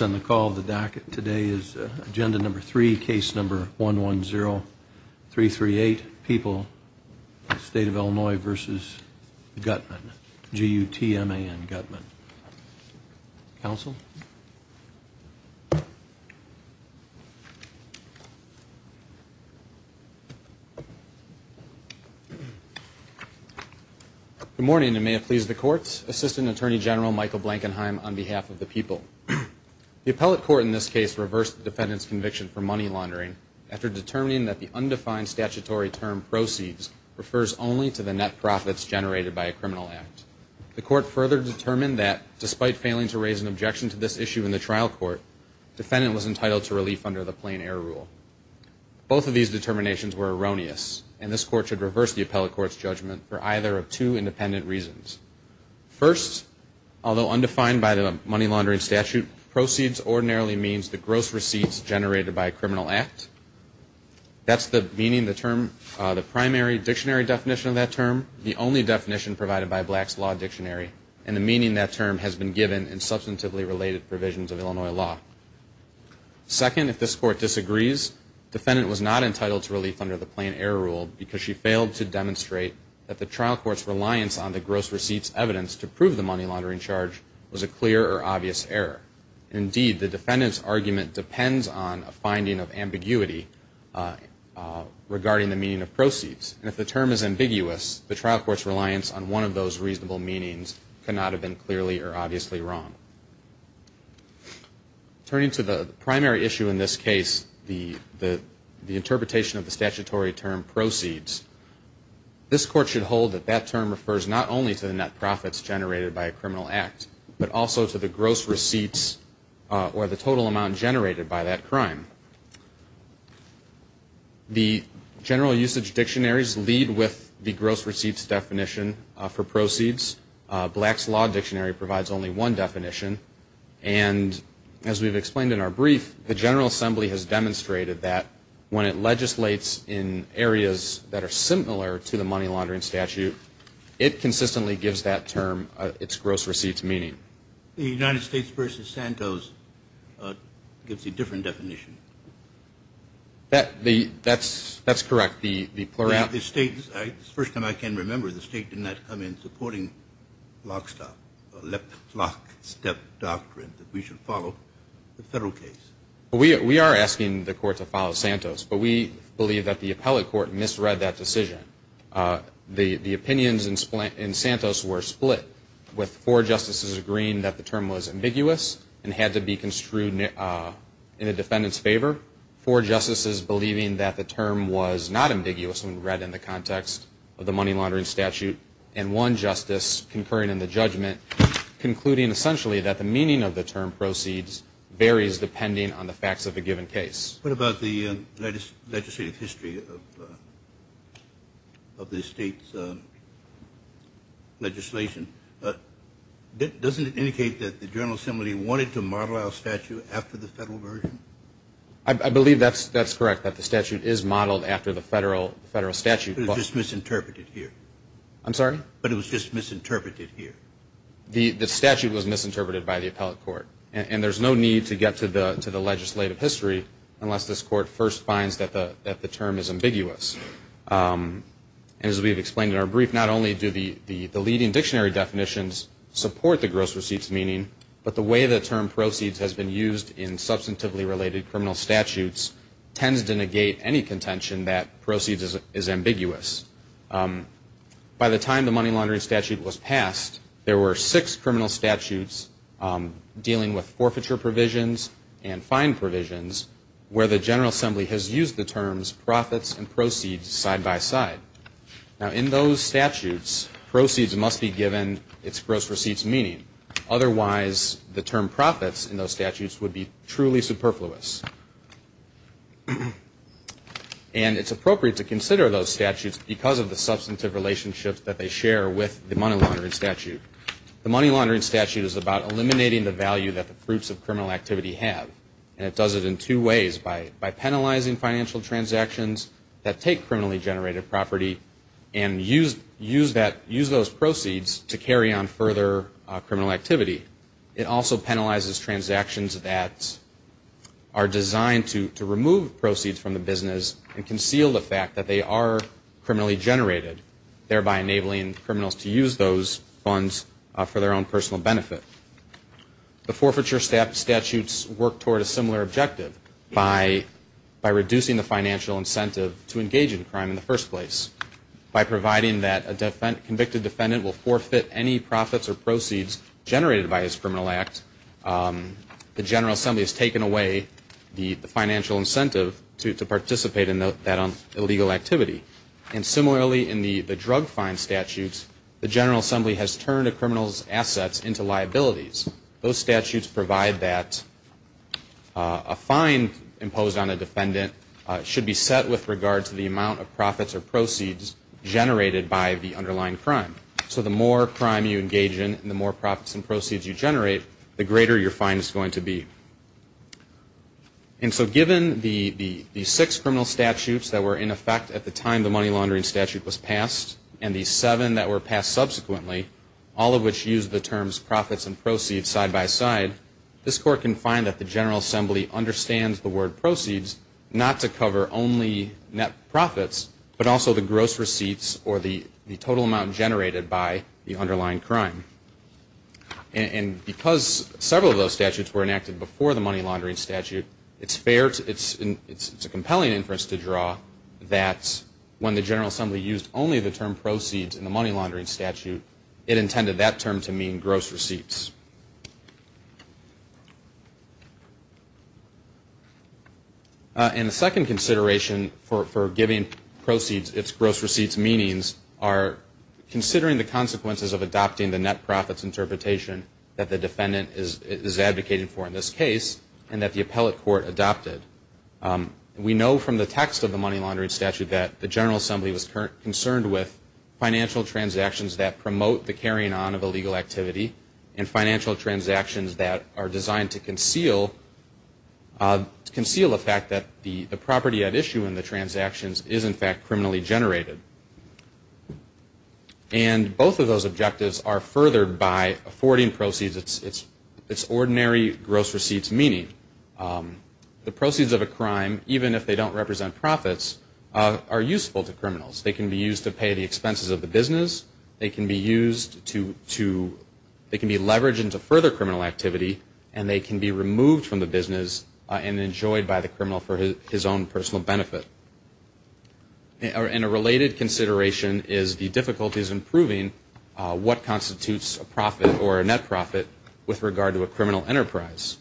on the call of the docket today is agenda number three, case number 110338, People, State of Illinois v. Gutman, G-U-T-M-A-N, Gutman. Counsel? Good morning, and may it please the courts. Assistant Attorney General Michael Blankenheim on behalf of the People. The appellate court in this case reversed the defendant's conviction for money laundering after determining that the undefined statutory term proceeds refers only to the net profits generated by a criminal act. The court further determined that, despite failing to raise an objection to this issue in the trial court, defendant was entitled to relief under the plain error rule. Both of these determinations were erroneous, and this court should reverse the appellate court's judgment for either of two independent reasons. First, although undefined by the money laundering statute, proceeds ordinarily means the gross receipts generated by a criminal act. That's the meaning of the term, the primary dictionary definition of that term, the only definition provided by Black's Law Dictionary, and the meaning that term has been given in substantively related provisions of Illinois law. Second, if this court disagrees, defendant was not entitled to relief under the plain error rule because she failed to demonstrate that the trial court's reliance on the gross receipts evidence to prove the money laundering charge was a clear or obvious error. Indeed, the defendant's argument depends on a finding of ambiguity regarding the meaning of proceeds. And if the term is ambiguous, the trial court's reliance on one of those reasonable meanings cannot have been clearly or obviously wrong. Turning to the primary issue in this case, the interpretation of the statutory term proceeds, this court should hold that that term refers not only to the net profits generated by a criminal act, but also to the gross receipts or the total amount generated by that crime. The general usage dictionaries lead with the gross receipts definition for proceeds. Black's Law Dictionary provides only one definition. And as we've explained in our brief, the General Assembly has demonstrated that when it legislates in areas that are similar to the money laundering statute, it consistently gives that term its gross receipts meaning. The United States versus Santos gives a different definition. That's correct. The state, the first time I can remember, the state did not come in supporting lock, stop, lock, step doctrine that we should follow the federal case. We are asking the court to follow Santos. But we believe that the appellate court misread that decision. The opinions in Santos were split with four justices agreeing that the term was ambiguous and had to be construed in a defendant's favor, four justices believing that the term was not ambiguous when read in the context of the money laundering statute, and one justice concurring in the judgment concluding essentially that the meaning of the term proceeds varies depending on the facts of a given case. What about the legislative history of the state's legislation? Doesn't it indicate that the General Assembly wanted to model our statute after the federal version? I believe that's correct, that the statute is modeled after the federal statute. But it was just misinterpreted here. I'm sorry? But it was just misinterpreted here. The statute was misinterpreted by the appellate court. And there's no need to get to the legislative history unless this court first finds that the term is ambiguous. As we've explained in our brief, not only do the leading dictionary definitions support the gross receipts meaning, but the way the term proceeds has been used in substantively related criminal statutes tends to negate any contention that proceeds is ambiguous. By the time the money laundering statute was passed, there were six criminal statutes dealing with forfeiture provisions and fine provisions where the General Assembly has used the terms profits and proceeds side by side. Now, in those statutes, proceeds must be given its gross receipts meaning. Otherwise, the term profits in those statutes would be truly superfluous. And it's appropriate to consider those statutes because of the substantive relationships that they share with the money laundering statute. The money laundering statute is about eliminating the value that the fruits of criminal activity have. And it does it in two ways, by penalizing financial transactions that take criminally generated property and use those proceeds to carry on further criminal activity. It also penalizes transactions that are designed to remove proceeds from the business and conceal the fact that they are criminally generated, thereby enabling criminals to use those funds for their own personal benefit. The forfeiture statutes work toward a similar objective by reducing the financial incentive to engage in crime in the first place. By providing that a convicted defendant will forfeit any profits or proceeds generated by his criminal act, the General Assembly has taken away the financial incentive to participate in that illegal activity. And similarly, in the drug fine statutes, the General Assembly has turned a criminal's assets into liabilities. Those statutes provide that a fine imposed on a defendant should be set with regard to the amount of profits or proceeds generated by the underlying crime. So the more crime you engage in and the more profits and proceeds you generate, the greater your fine is going to be. And so given the six criminal statutes that were in effect at the time the money laundering statute was passed, and the seven that were passed subsequently, all of which use the terms profits and proceeds side by side, this Court can find that the General Assembly understands the word proceeds not to cover only net profits, but also the gross receipts or the total amount generated by the underlying crime. And because several of those statutes were enacted before the money laundering statute, it's a compelling inference to draw that when the General Assembly used only the term proceeds in the money laundering statute, it intended that term to mean gross receipts. And the second consideration for giving proceeds its gross receipts meanings are considering the consequences of adopting the net profits interpretation that the defendant is advocating for in this case and that the appellate court adopted. We know from the text of the money laundering statute that the General Assembly was concerned with financial transactions that promote the carrying on of illegal activity and financial transactions that are designed to conceal the fact that the property at issue in the transactions is in fact criminally generated. And both of those objectives are furthered by affording proceeds its ordinary gross receipts meaning. The proceeds of a crime, even if they don't represent profits, are useful to criminals. They can be used to pay the expenses of the business, they can be leveraged into further criminal activity, and they can be removed from the business and enjoyed by the criminal for his own personal benefit. And a related consideration is the difficulties in proving what constitutes a profit or a net profit with regard to a criminal enterprise.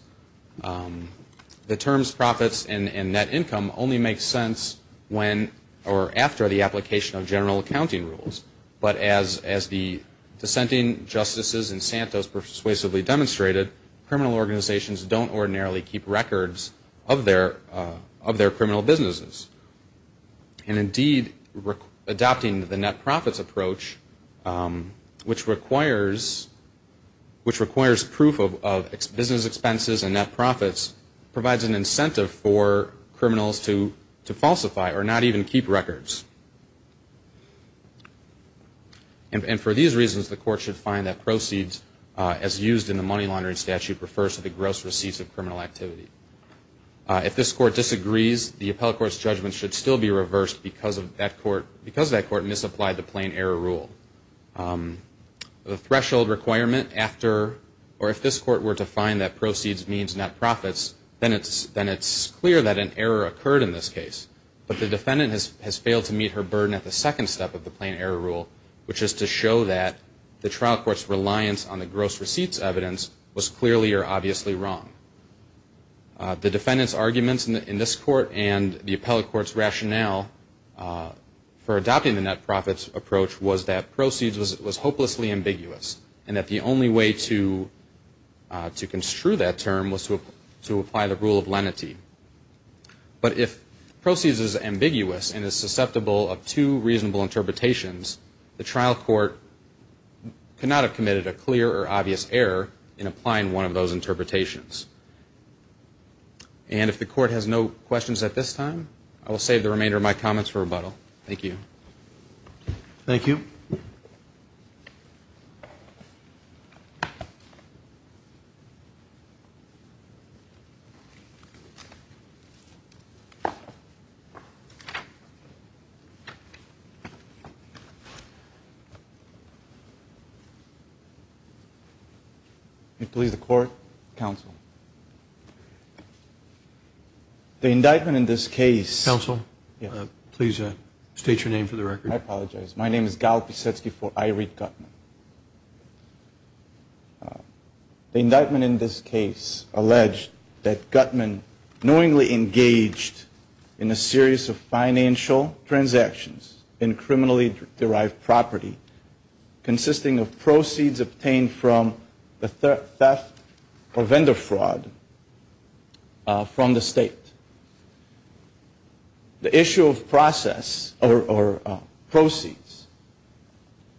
The terms profits and net income only make sense when or after the application of general accounting rules. But as the dissenting justices in Santos persuasively demonstrated, criminal organizations don't ordinarily keep records of their criminal businesses. And indeed, adopting the net profits approach, which requires proof of business expenses and net profits, provides an incentive for criminals to falsify or not even keep records. And for these reasons, the court should find that proceeds as used in the money laundering statute refers to the gross receipts of criminal activity. If this court disagrees, the appellate court's judgment should still be reversed because that court misapplied the plain error rule. But the defendant has failed to meet her burden at the second step of the plain error rule, which is to show that the trial court's rationale for adopting the net profits approach was that proceeds was hopelessly ambiguous and that the only way to construe that term was to apply the rule of lenity. But if proceeds is ambiguous and is susceptible of two reasonable interpretations, the trial court could not have committed a clear or obvious error in applying one of those interpretations. And if the court has no questions at this time, I will save the remainder of my comments for rebuttal. Thank you. The indictment in this case alleged that Guttman knowingly engaged in a series of financial transactions in criminally derived property consisting of theft or vendor fraud from the state. The issue of process or proceeds,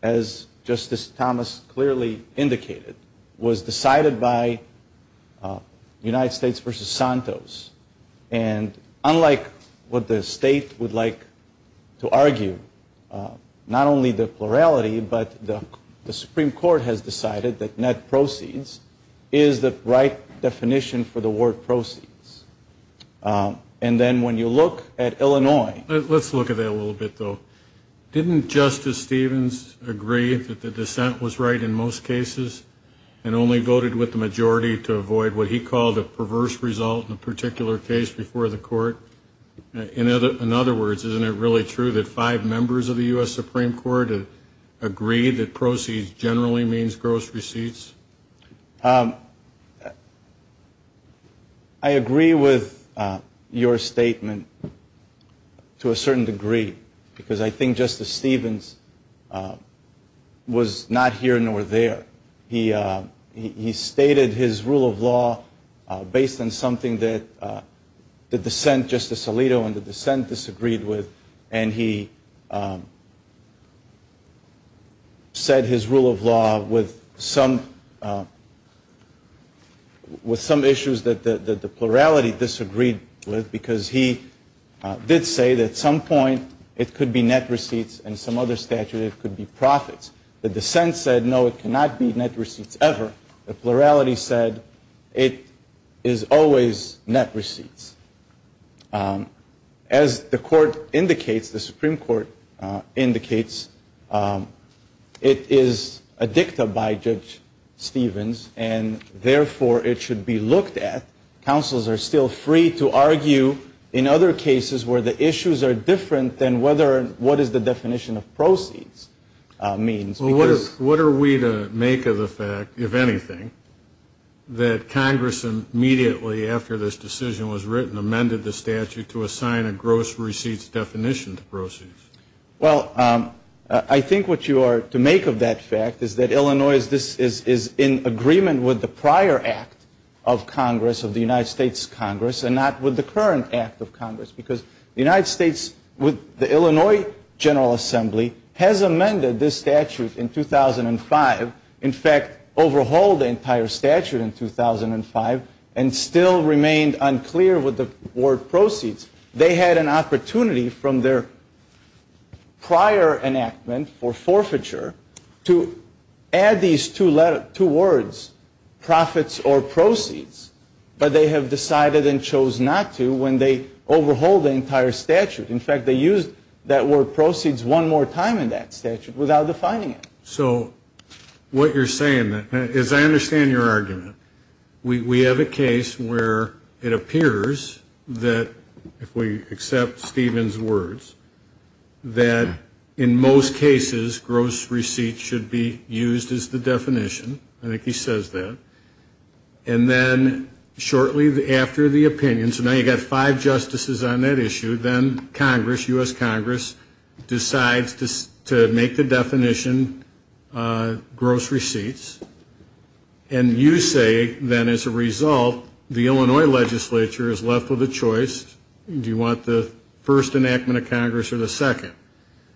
as Justice Thomas clearly indicated, was decided by United States v. Santos. And unlike what the state would like to argue, not only the plurality, but the Supreme Court has decided that net proceeds are not the right definition for the word proceeds. And then when you look at Illinois... Let's look at that a little bit, though. Didn't Justice Stevens agree that the dissent was right in most cases and only voted with the majority to avoid what he called a perverse result in a particular case? I agree with your statement to a certain degree, because I think Justice Stevens was not here nor there. He stated his rule of law based on something that the dissent, Justice Alito, and the dissent disagreed with, and he said his rule of law with some issues that the plurality disagreed with, because he did say that at some point it could be net receipts and some other statute it could be profits. The dissent said no, it cannot be net receipts ever. The plurality said it is always net receipts. As the court indicates, the Supreme Court indicates, it is a dicta by Judge Stevens, and therefore it should be looked at. Counselors are still free to argue in other cases where the issues are different than what is the definition of proceeds means. Well, what are we to make of the fact, if anything, that Congress immediately after this decision was written in the Supreme Court, and amended the statute to assign a gross receipts definition to proceeds? Well, I think what you are to make of that fact is that Illinois is in agreement with the prior act of Congress, of the United States Congress, and not with the current act of Congress, because the United States, with the Illinois General Assembly, has amended this statute in 2005. In fact, overhauled the entire statute in 2005, and still remained unclear with the word proceeds. They had an opportunity from their prior enactment for forfeiture to add these two words, profits or proceeds, but they have decided and chose not to when they overhauled the entire statute. In fact, they used that word proceeds one more time in that statute without defining it. So what you're saying, as I understand your argument, we have a case where it appears that, if we accept Stevens' words, that in most cases gross receipts should be used as the definition. I think he says that. And then shortly after the opinion, so now you've got five justices on that issue, then Congress, U.S. Congress, decides to make the definition gross receipts. And you say, then, as a result, the Illinois legislature is left with a choice. Do you want the first enactment of Congress or the second?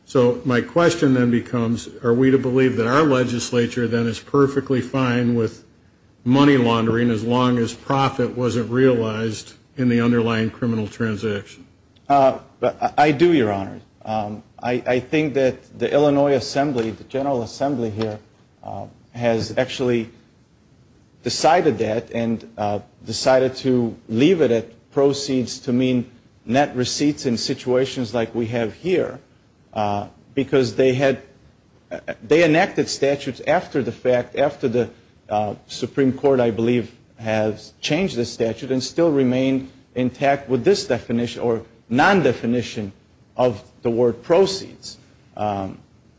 So my question then becomes, are we to believe that our legislature then is perfectly fine with money laundering as long as profit wasn't realized in the underlying criminal transaction? I do, Your Honor. I think that the Illinois Assembly, the General Assembly here, has actually decided that and decided to leave it at proceeds to mean net receipts in situations like we have here. Because they enacted statutes after the Supreme Court, I believe, has changed the statute and still remained intact with this definition or non-definition of the word proceeds.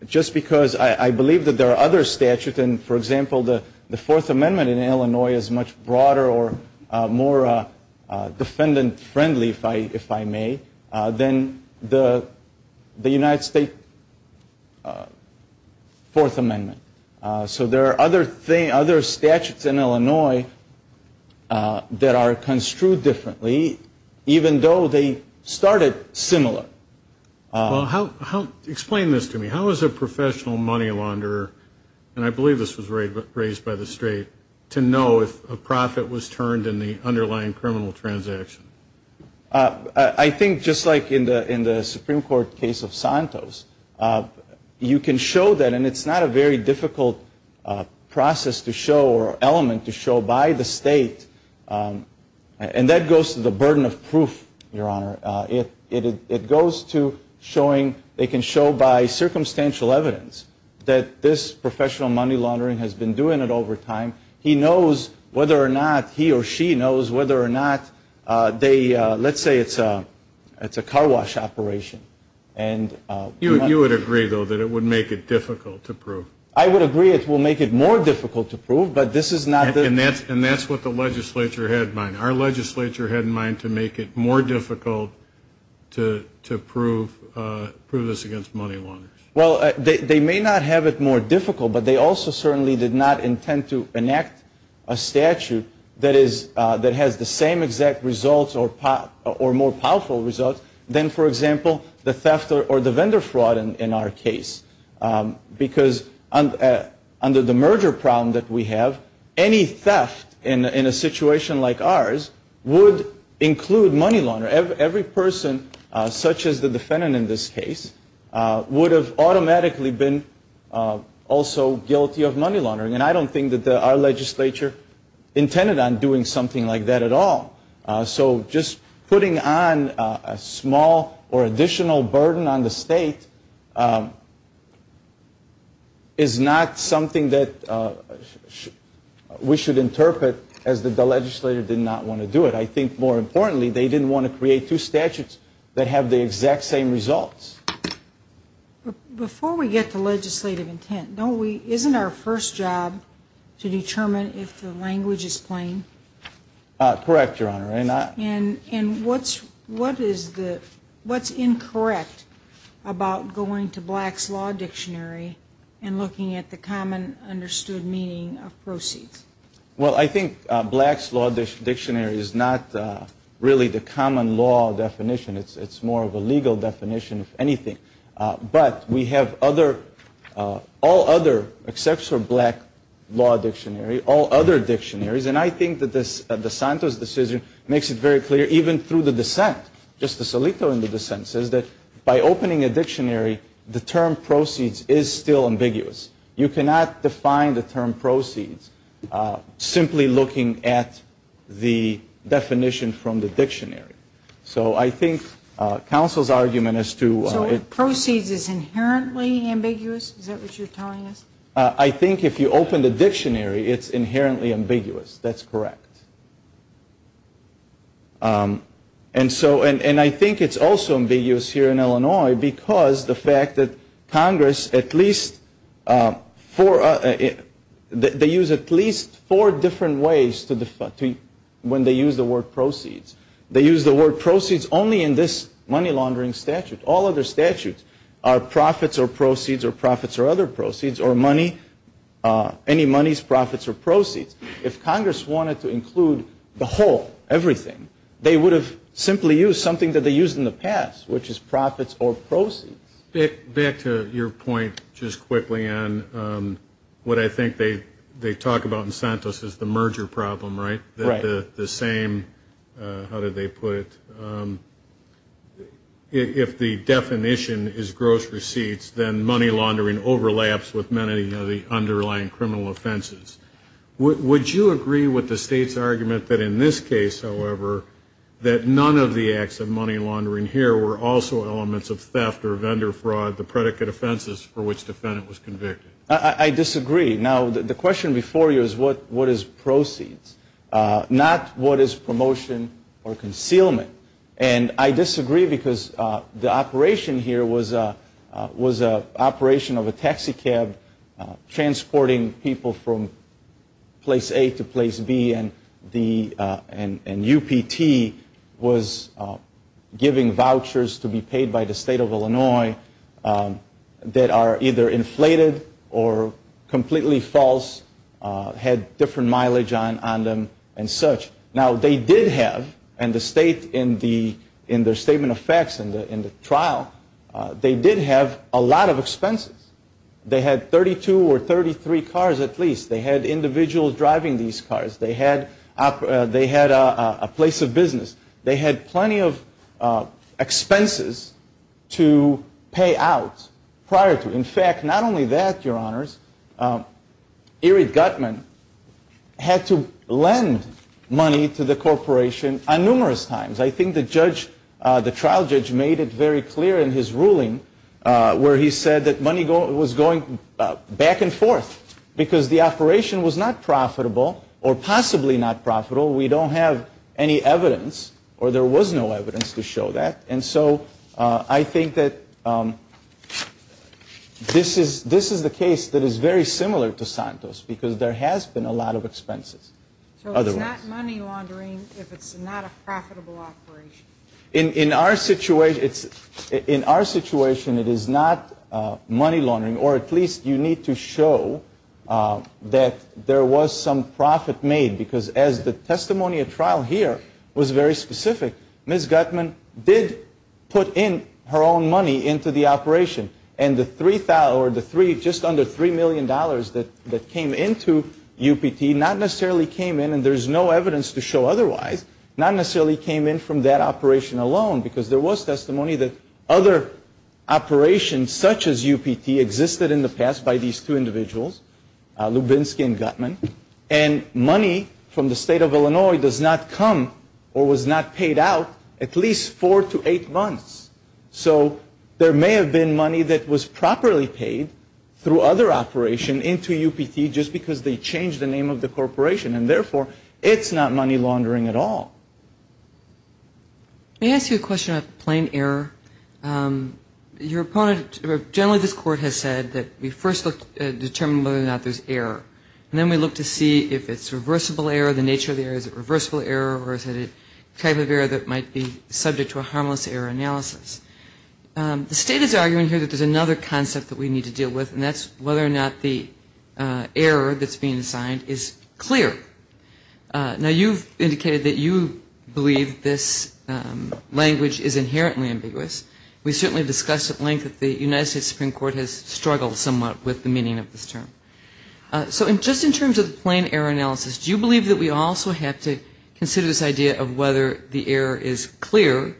Just because I believe that there are other statutes, and, for example, the Fourth Amendment in Illinois is much broader or more defendant-friendly, if I may, than the United States Fourth Amendment. So there are other statutes in Illinois that are construed differently, even though they started similar. Well, explain this to me. How is a professional money launderer, and I believe this was raised by the State, to know if a profit was turned in the underlying criminal transaction? I think just like in the Supreme Court case of Santos, you can show that, and it's not a very difficult process to show or element to show by the State. And that goes to the burden of proof, Your Honor. It goes to showing, it can show by circumstantial evidence that this professional money launderer has been doing it over time. He knows whether or not he or she knows whether or not they, let's say it's a car wash operation. You would agree, though, that it would make it difficult to prove? I would agree it will make it more difficult to prove, but this is not the... And that's what the legislature had in mind. Our legislature had in mind to make it more difficult to prove this against money launderers. Well, they may not have it more difficult, but they also certainly did not intend to enact a statute that has the same exact results or more powerful results than, for example, the theft or the vendor fraud in our case. Because under the merger problem that we have, any theft in a situation like ours, would include money launderers. Every person, such as the defendant in this case, would have automatically been also guilty of money laundering. And I don't think that our legislature intended on doing something like that at all. So just putting on a small or additional burden on the State is not something that we should interpret, as the legislature did not want to do it. I think more importantly, they didn't want to create two statutes that have the exact same results. Before we get to legislative intent, isn't our first job to determine if the language is plain? Correct, Your Honor. And what's incorrect about going to Black's Law Dictionary and looking at the common understood meaning of proceeds? Well, I think Black's Law Dictionary is not really the common law definition. It's more of a legal definition, if anything. But we have all other, except for Black Law Dictionary, all other dictionaries. And I think that DeSanto's decision makes it very clear, even through the dissent. Justice Alito in the dissent says that by opening a dictionary, the term proceeds is still ambiguous. You cannot define the term proceeds simply looking at the definition from the dictionary. So I think counsel's argument is to... So proceeds is inherently ambiguous? Is that what you're telling us? I think if you open the dictionary, it's inherently ambiguous. That's correct. And I think it's also ambiguous here in Illinois because the fact that Congress, at least four, they use at least four different ways when they use the word proceeds. They use the word proceeds only in this money laundering statute. All other statutes are profits or proceeds or profits or other proceeds or money, any monies, profits or proceeds. If Congress wanted to include the whole, everything, they would have simply used something that they used in the past, which is profits or proceeds. Back to your point just quickly on what I think they talk about in Santos is the merger problem, right? If the definition is gross receipts, then money laundering overlaps with many of the underlying criminal offenses. Would you agree with the state's argument that in this case, however, that none of the acts of money laundering here were also elements of theft or vendor fraud, the predicate offenses for which the defendant was convicted? I disagree. Now, the question before you is what is proceeds, not what is promotion or concealment. And I disagree because the operation here was an operation of a taxi cab transporting people from place A to place B, and UPT was giving vouchers to be paid by the state of Illinois that are either inflated or completely false, had different mileage on them and such. Now, they did have, and the state in their statement of facts in the trial, they did have a lot of expenses. They had 32 or 33 cars at least. They had individuals driving these cars. They had a place of business. They had plenty of expenses to pay out prior to. In fact, not only that, your honors, Erie Gutman had to lend money to the corporation numerous times. I think the judge, the trial judge made it very clear in his ruling where he said that money was going back and forth because the operation was not profitable or possibly not profitable. We don't have any evidence or there was no evidence to show that. And so I think that this is the case that is very similar to Santos because there has been a lot of expenses. So it's not money laundering if it's not a profitable operation? In our situation, it is not money laundering or at least you need to show that there was some profit made because as the testimony at trial here was very specific, Ms. Gutman did put in her own money into the operation. And the just under $3 million that came into UPT not necessarily came in and there's no evidence to show otherwise, not necessarily came in from that operation alone because there was testimony that other operations such as UPT existed in the past by these two individuals, Lubinsky and Gutman, and money from the state of Illinois does not come or was not paid out at least four to eight months. So there may have been money that was properly paid through other operation into UPT just because they changed the name of the corporation. And therefore, it's not money laundering at all. May I ask you a question about the plain error? Your opponent, generally this court has said that we first look to determine whether or not there's error. And then we look to see if it's reversible error, the nature of the error, is it reversible error or is it a type of error that might be subject to a plain error analysis? The state is arguing here that there's another concept that we need to deal with and that's whether or not the error that's being assigned is clear. Now, you've indicated that you believe this language is inherently ambiguous. We certainly discussed at length that the United States Supreme Court has struggled somewhat with the meaning of this term. So just in terms of the plain error analysis, do you believe that we also have to consider this idea of whether the error is clear?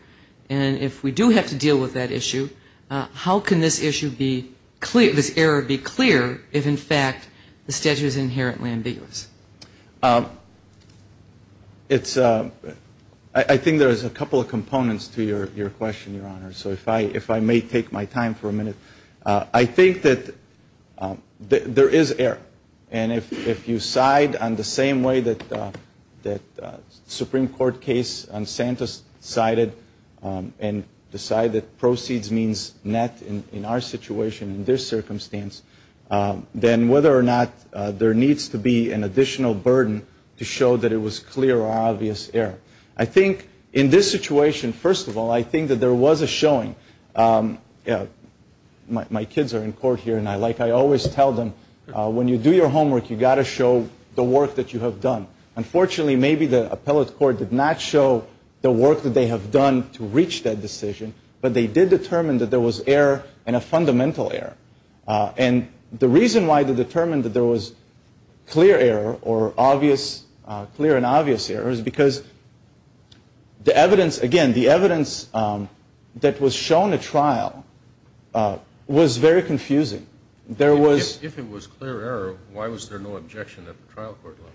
And if we do have to deal with that issue, how can this issue be clear, this error be clear if in fact the statute is inherently ambiguous? I think there's a couple of components to your question, Your Honor. So if I may take my time for a minute. I think that there is error. And if you side on the same way that the Supreme Court case on Santa's sided and decided that proceeds means net in our situation in this circumstance, then whether or not there needs to be an additional burden to show that it was clear or obvious error. I think in this situation, first of all, I think that there was a showing. My kids are in court here and like I always tell them, when you do your homework, you've got to show the work that you have done. Unfortunately, maybe that's not the case. But if you do your homework, you've got to show the work that you have done. And I think that the Supreme Court did not show the work that they have done to reach that decision. But they did determine that there was error and a fundamental error. And the reason why they determined that there was clear error or clear and obvious error is because the evidence, again, the evidence that was shown at trial was very confusing. If it was clear error, why was there no objection at the trial court level?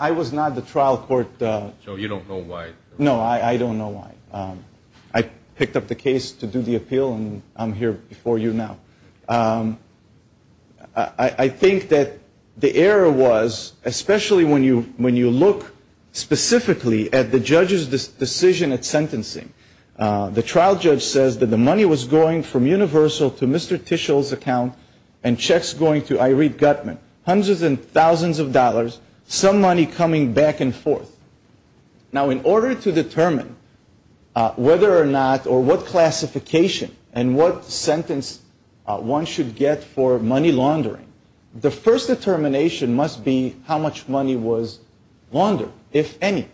I was not at the trial court. So you don't know why? No, I don't know why. I picked up the case to do the appeal and I'm here before you now. I think that the error was, especially when you look specifically at the judge's decision at sentencing, the trial judge says that the money was going from Universal to Mr. Tishel's account and checks going to Irene Gutman, hundreds and thousands of dollars, some money coming back and forth. Now, in order to determine whether or not or what classification and what sentence one should get for money laundering, the first determination must be how much money was laundered, if any.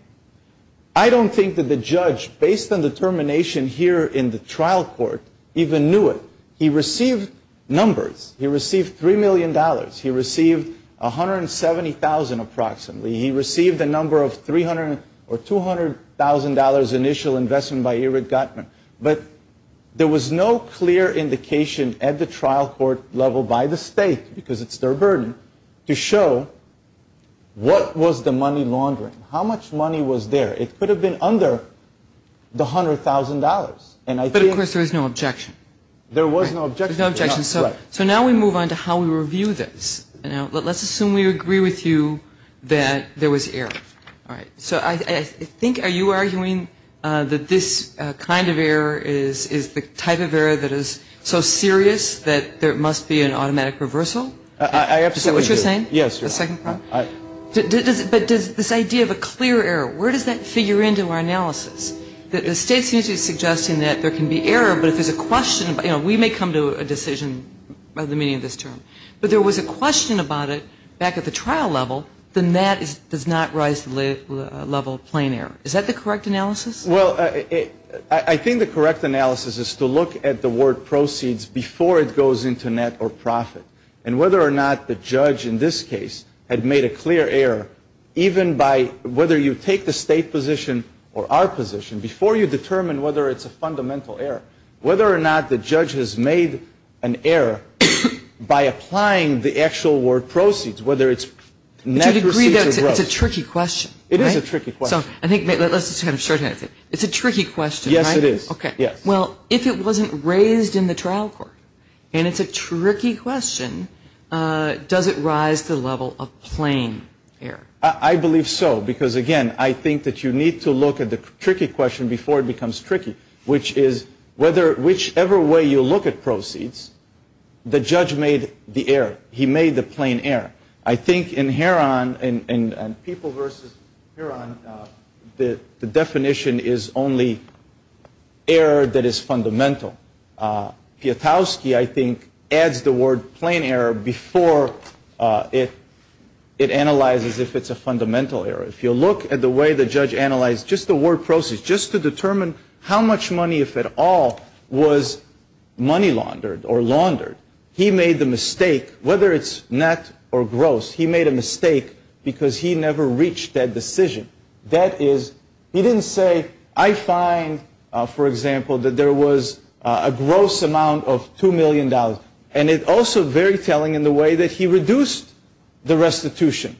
I don't think it was laundered. I don't think it was laundered. I don't think it was laundered. I don't think that the judge, based on the determination here in the trial court, even knew it. He received numbers. He received $3 million. He received $170,000 approximately. He received a number of $300,000 or $200,000 initial investment by Irene Gutman. But there was no clear indication at the trial court level by the state, because it's their burden, to show what was the money laundering, how much money was there. It could have been under the $100,000. But of course there was no objection. There was no objection. So now we move on to how we review this. Let's assume we agree with you that there was error. So I think, are you arguing that this kind of error is the type of error that is so serious that there must be an automatic reversal? Is that what you're saying? Is that what you're saying? We may come to a decision by the meaning of this term. But there was a question about it back at the trial level, the net does not rise to the level of plain error. Is that the correct analysis? Well, I think the correct analysis is to look at the word proceeds before it goes into net or profit. And whether or not the judge in this case had made a clear error, even by whether you take the state position or our position, before you determine whether it's a fundamental error, whether or not the judge has made an error by applying the actual word proceeds, whether it's net proceeds or gross. But you'd agree that it's a tricky question, right? It is a tricky question. So I think let's just kind of shorten it. It's a tricky question, right? Yes, it is. Okay. Well, if it wasn't raised in the trial court and it's a tricky question, does it rise to the level of plain error? I believe so. Because, again, I think that you need to look at the tricky question before it becomes tricky, which is, whichever way you look at proceeds, the judge made the error. He made the plain error. I think in Heron, in People v. Heron, the definition is only net or gross. He made the error that is fundamental. Piotrowski, I think, adds the word plain error before it analyzes if it's a fundamental error. If you look at the way the judge analyzed just the word proceeds, just to determine how much money, if at all, was money laundered or laundered, he made the mistake, whether it's net or gross, he made a mistake because he never reached that decision. That is, he didn't say, I find, for example, that there was a gross amount of $2 million. And it's also very telling in the way that he reduced the restitution.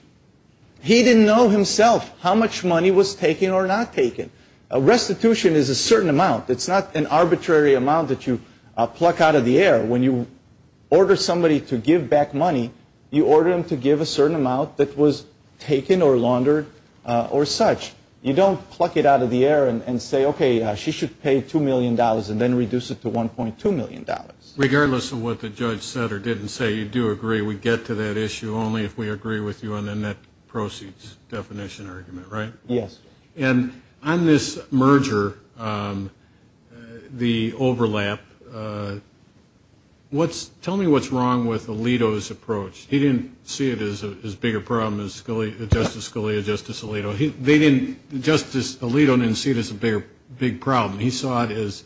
He didn't know himself how much money was taken or not taken. Restitution is a certain amount. It's not an arbitrary amount that you pluck out of the air. When you order somebody to give back money, you order them to give a certain amount that was taken or laundered or not taken. And as such, you don't pluck it out of the air and say, okay, she should pay $2 million and then reduce it to $1.2 million. Regardless of what the judge said or didn't say, you do agree, we get to that issue only if we agree with you on the net proceeds definition argument, right? Yes. And on this merger, the overlap, tell me what's wrong with Alito's approach. He didn't see it as a bigger problem than Justice Scalia, Justice Alito. Justice Alito didn't see it as a big problem. He saw it as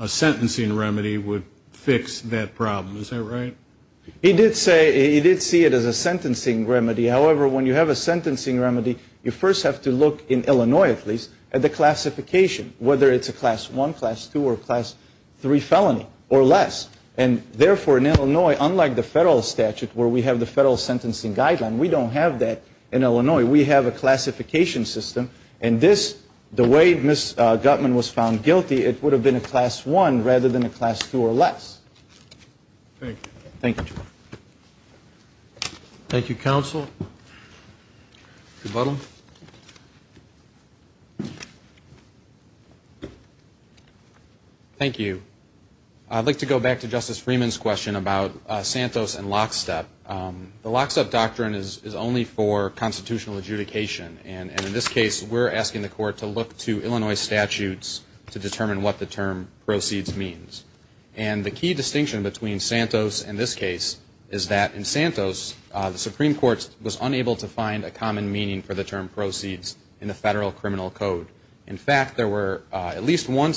a sentencing remedy would fix that problem. Is that right? He did see it as a sentencing remedy. However, when you have a sentencing remedy, you first have to look, in Illinois at least, at the classification, whether it's a Class I, Class II, or Class III felony or less. And therefore, in Illinois, unlike the federal statute where we have the federal sentencing guideline, we don't have that in Illinois. We have a classification system. And this, the way Ms. Gutman was found guilty, it would have been a Class I rather than a Class II or less. Thank you, counsel. Thank you. I'd like to go back to Justice Freeman's question about Santos and lockstep. The lockstep doctrine is only for constitutional adjudication. And in this case, we're asking the court to look to Illinois statutes to determine what the term proceeds means. And the key distinction between Santos and this case is that in Santos, the Supreme Court was unable to find a common meaning for the term proceeds in the federal criminal code. In fact, there were at least one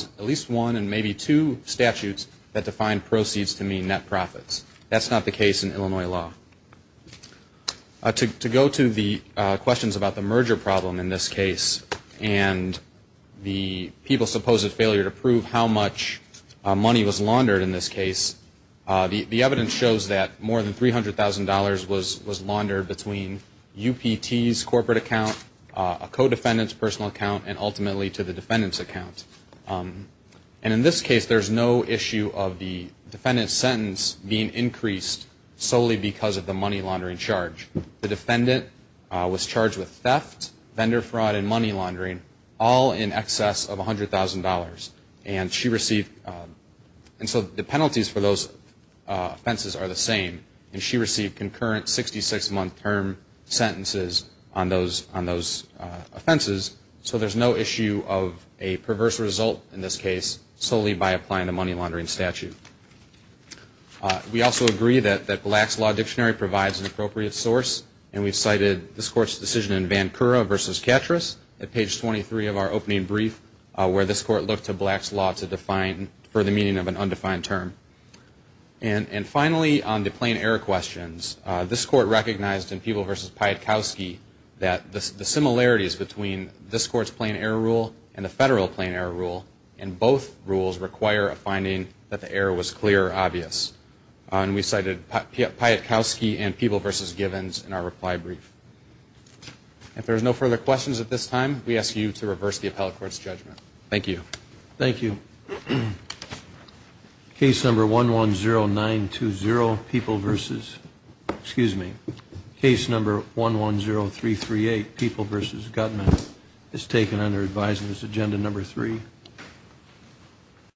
and maybe two statutes that defined proceeds to mean net profits. That's not the case in Illinois law. To go to the questions about the merger problem in this case and the people's supposed failure to prove how much money was laundered in this case, the evidence shows that more than $300,000 was laundered between UPT's corporate account, a co-defendant's personal account, and ultimately to the defendant's account. And in this case, there's no issue of the defendant's sentence being increased solely because of the money laundering charge. The defendant was charged with theft, vendor fraud, and money laundering, all in excess of $100,000. And so the penalties for those offenses are the same. And she received concurrent 66-month term sentences on those offenses. So there's no issue of a perverse result in this case solely by applying the money laundering statute. We also agree that Black's Law Dictionary provides an appropriate source. And we've cited this Court's decision in Vancouver v. Catrus at page 23 of our opening brief, where this Court looked to Black's Law for the meaning of an undefined term. And finally, on the plain error questions, this Court recognized in Peeble v. Piatkowski that the similarities between this Court's plain error rule and the federal plain error rule in both rules require a finding that the error was clear or obvious. And we cited Piatkowski and Peeble v. Givens in our reply brief. If there's no further questions at this time, we ask you to reverse the appellate court's judgment. Thank you.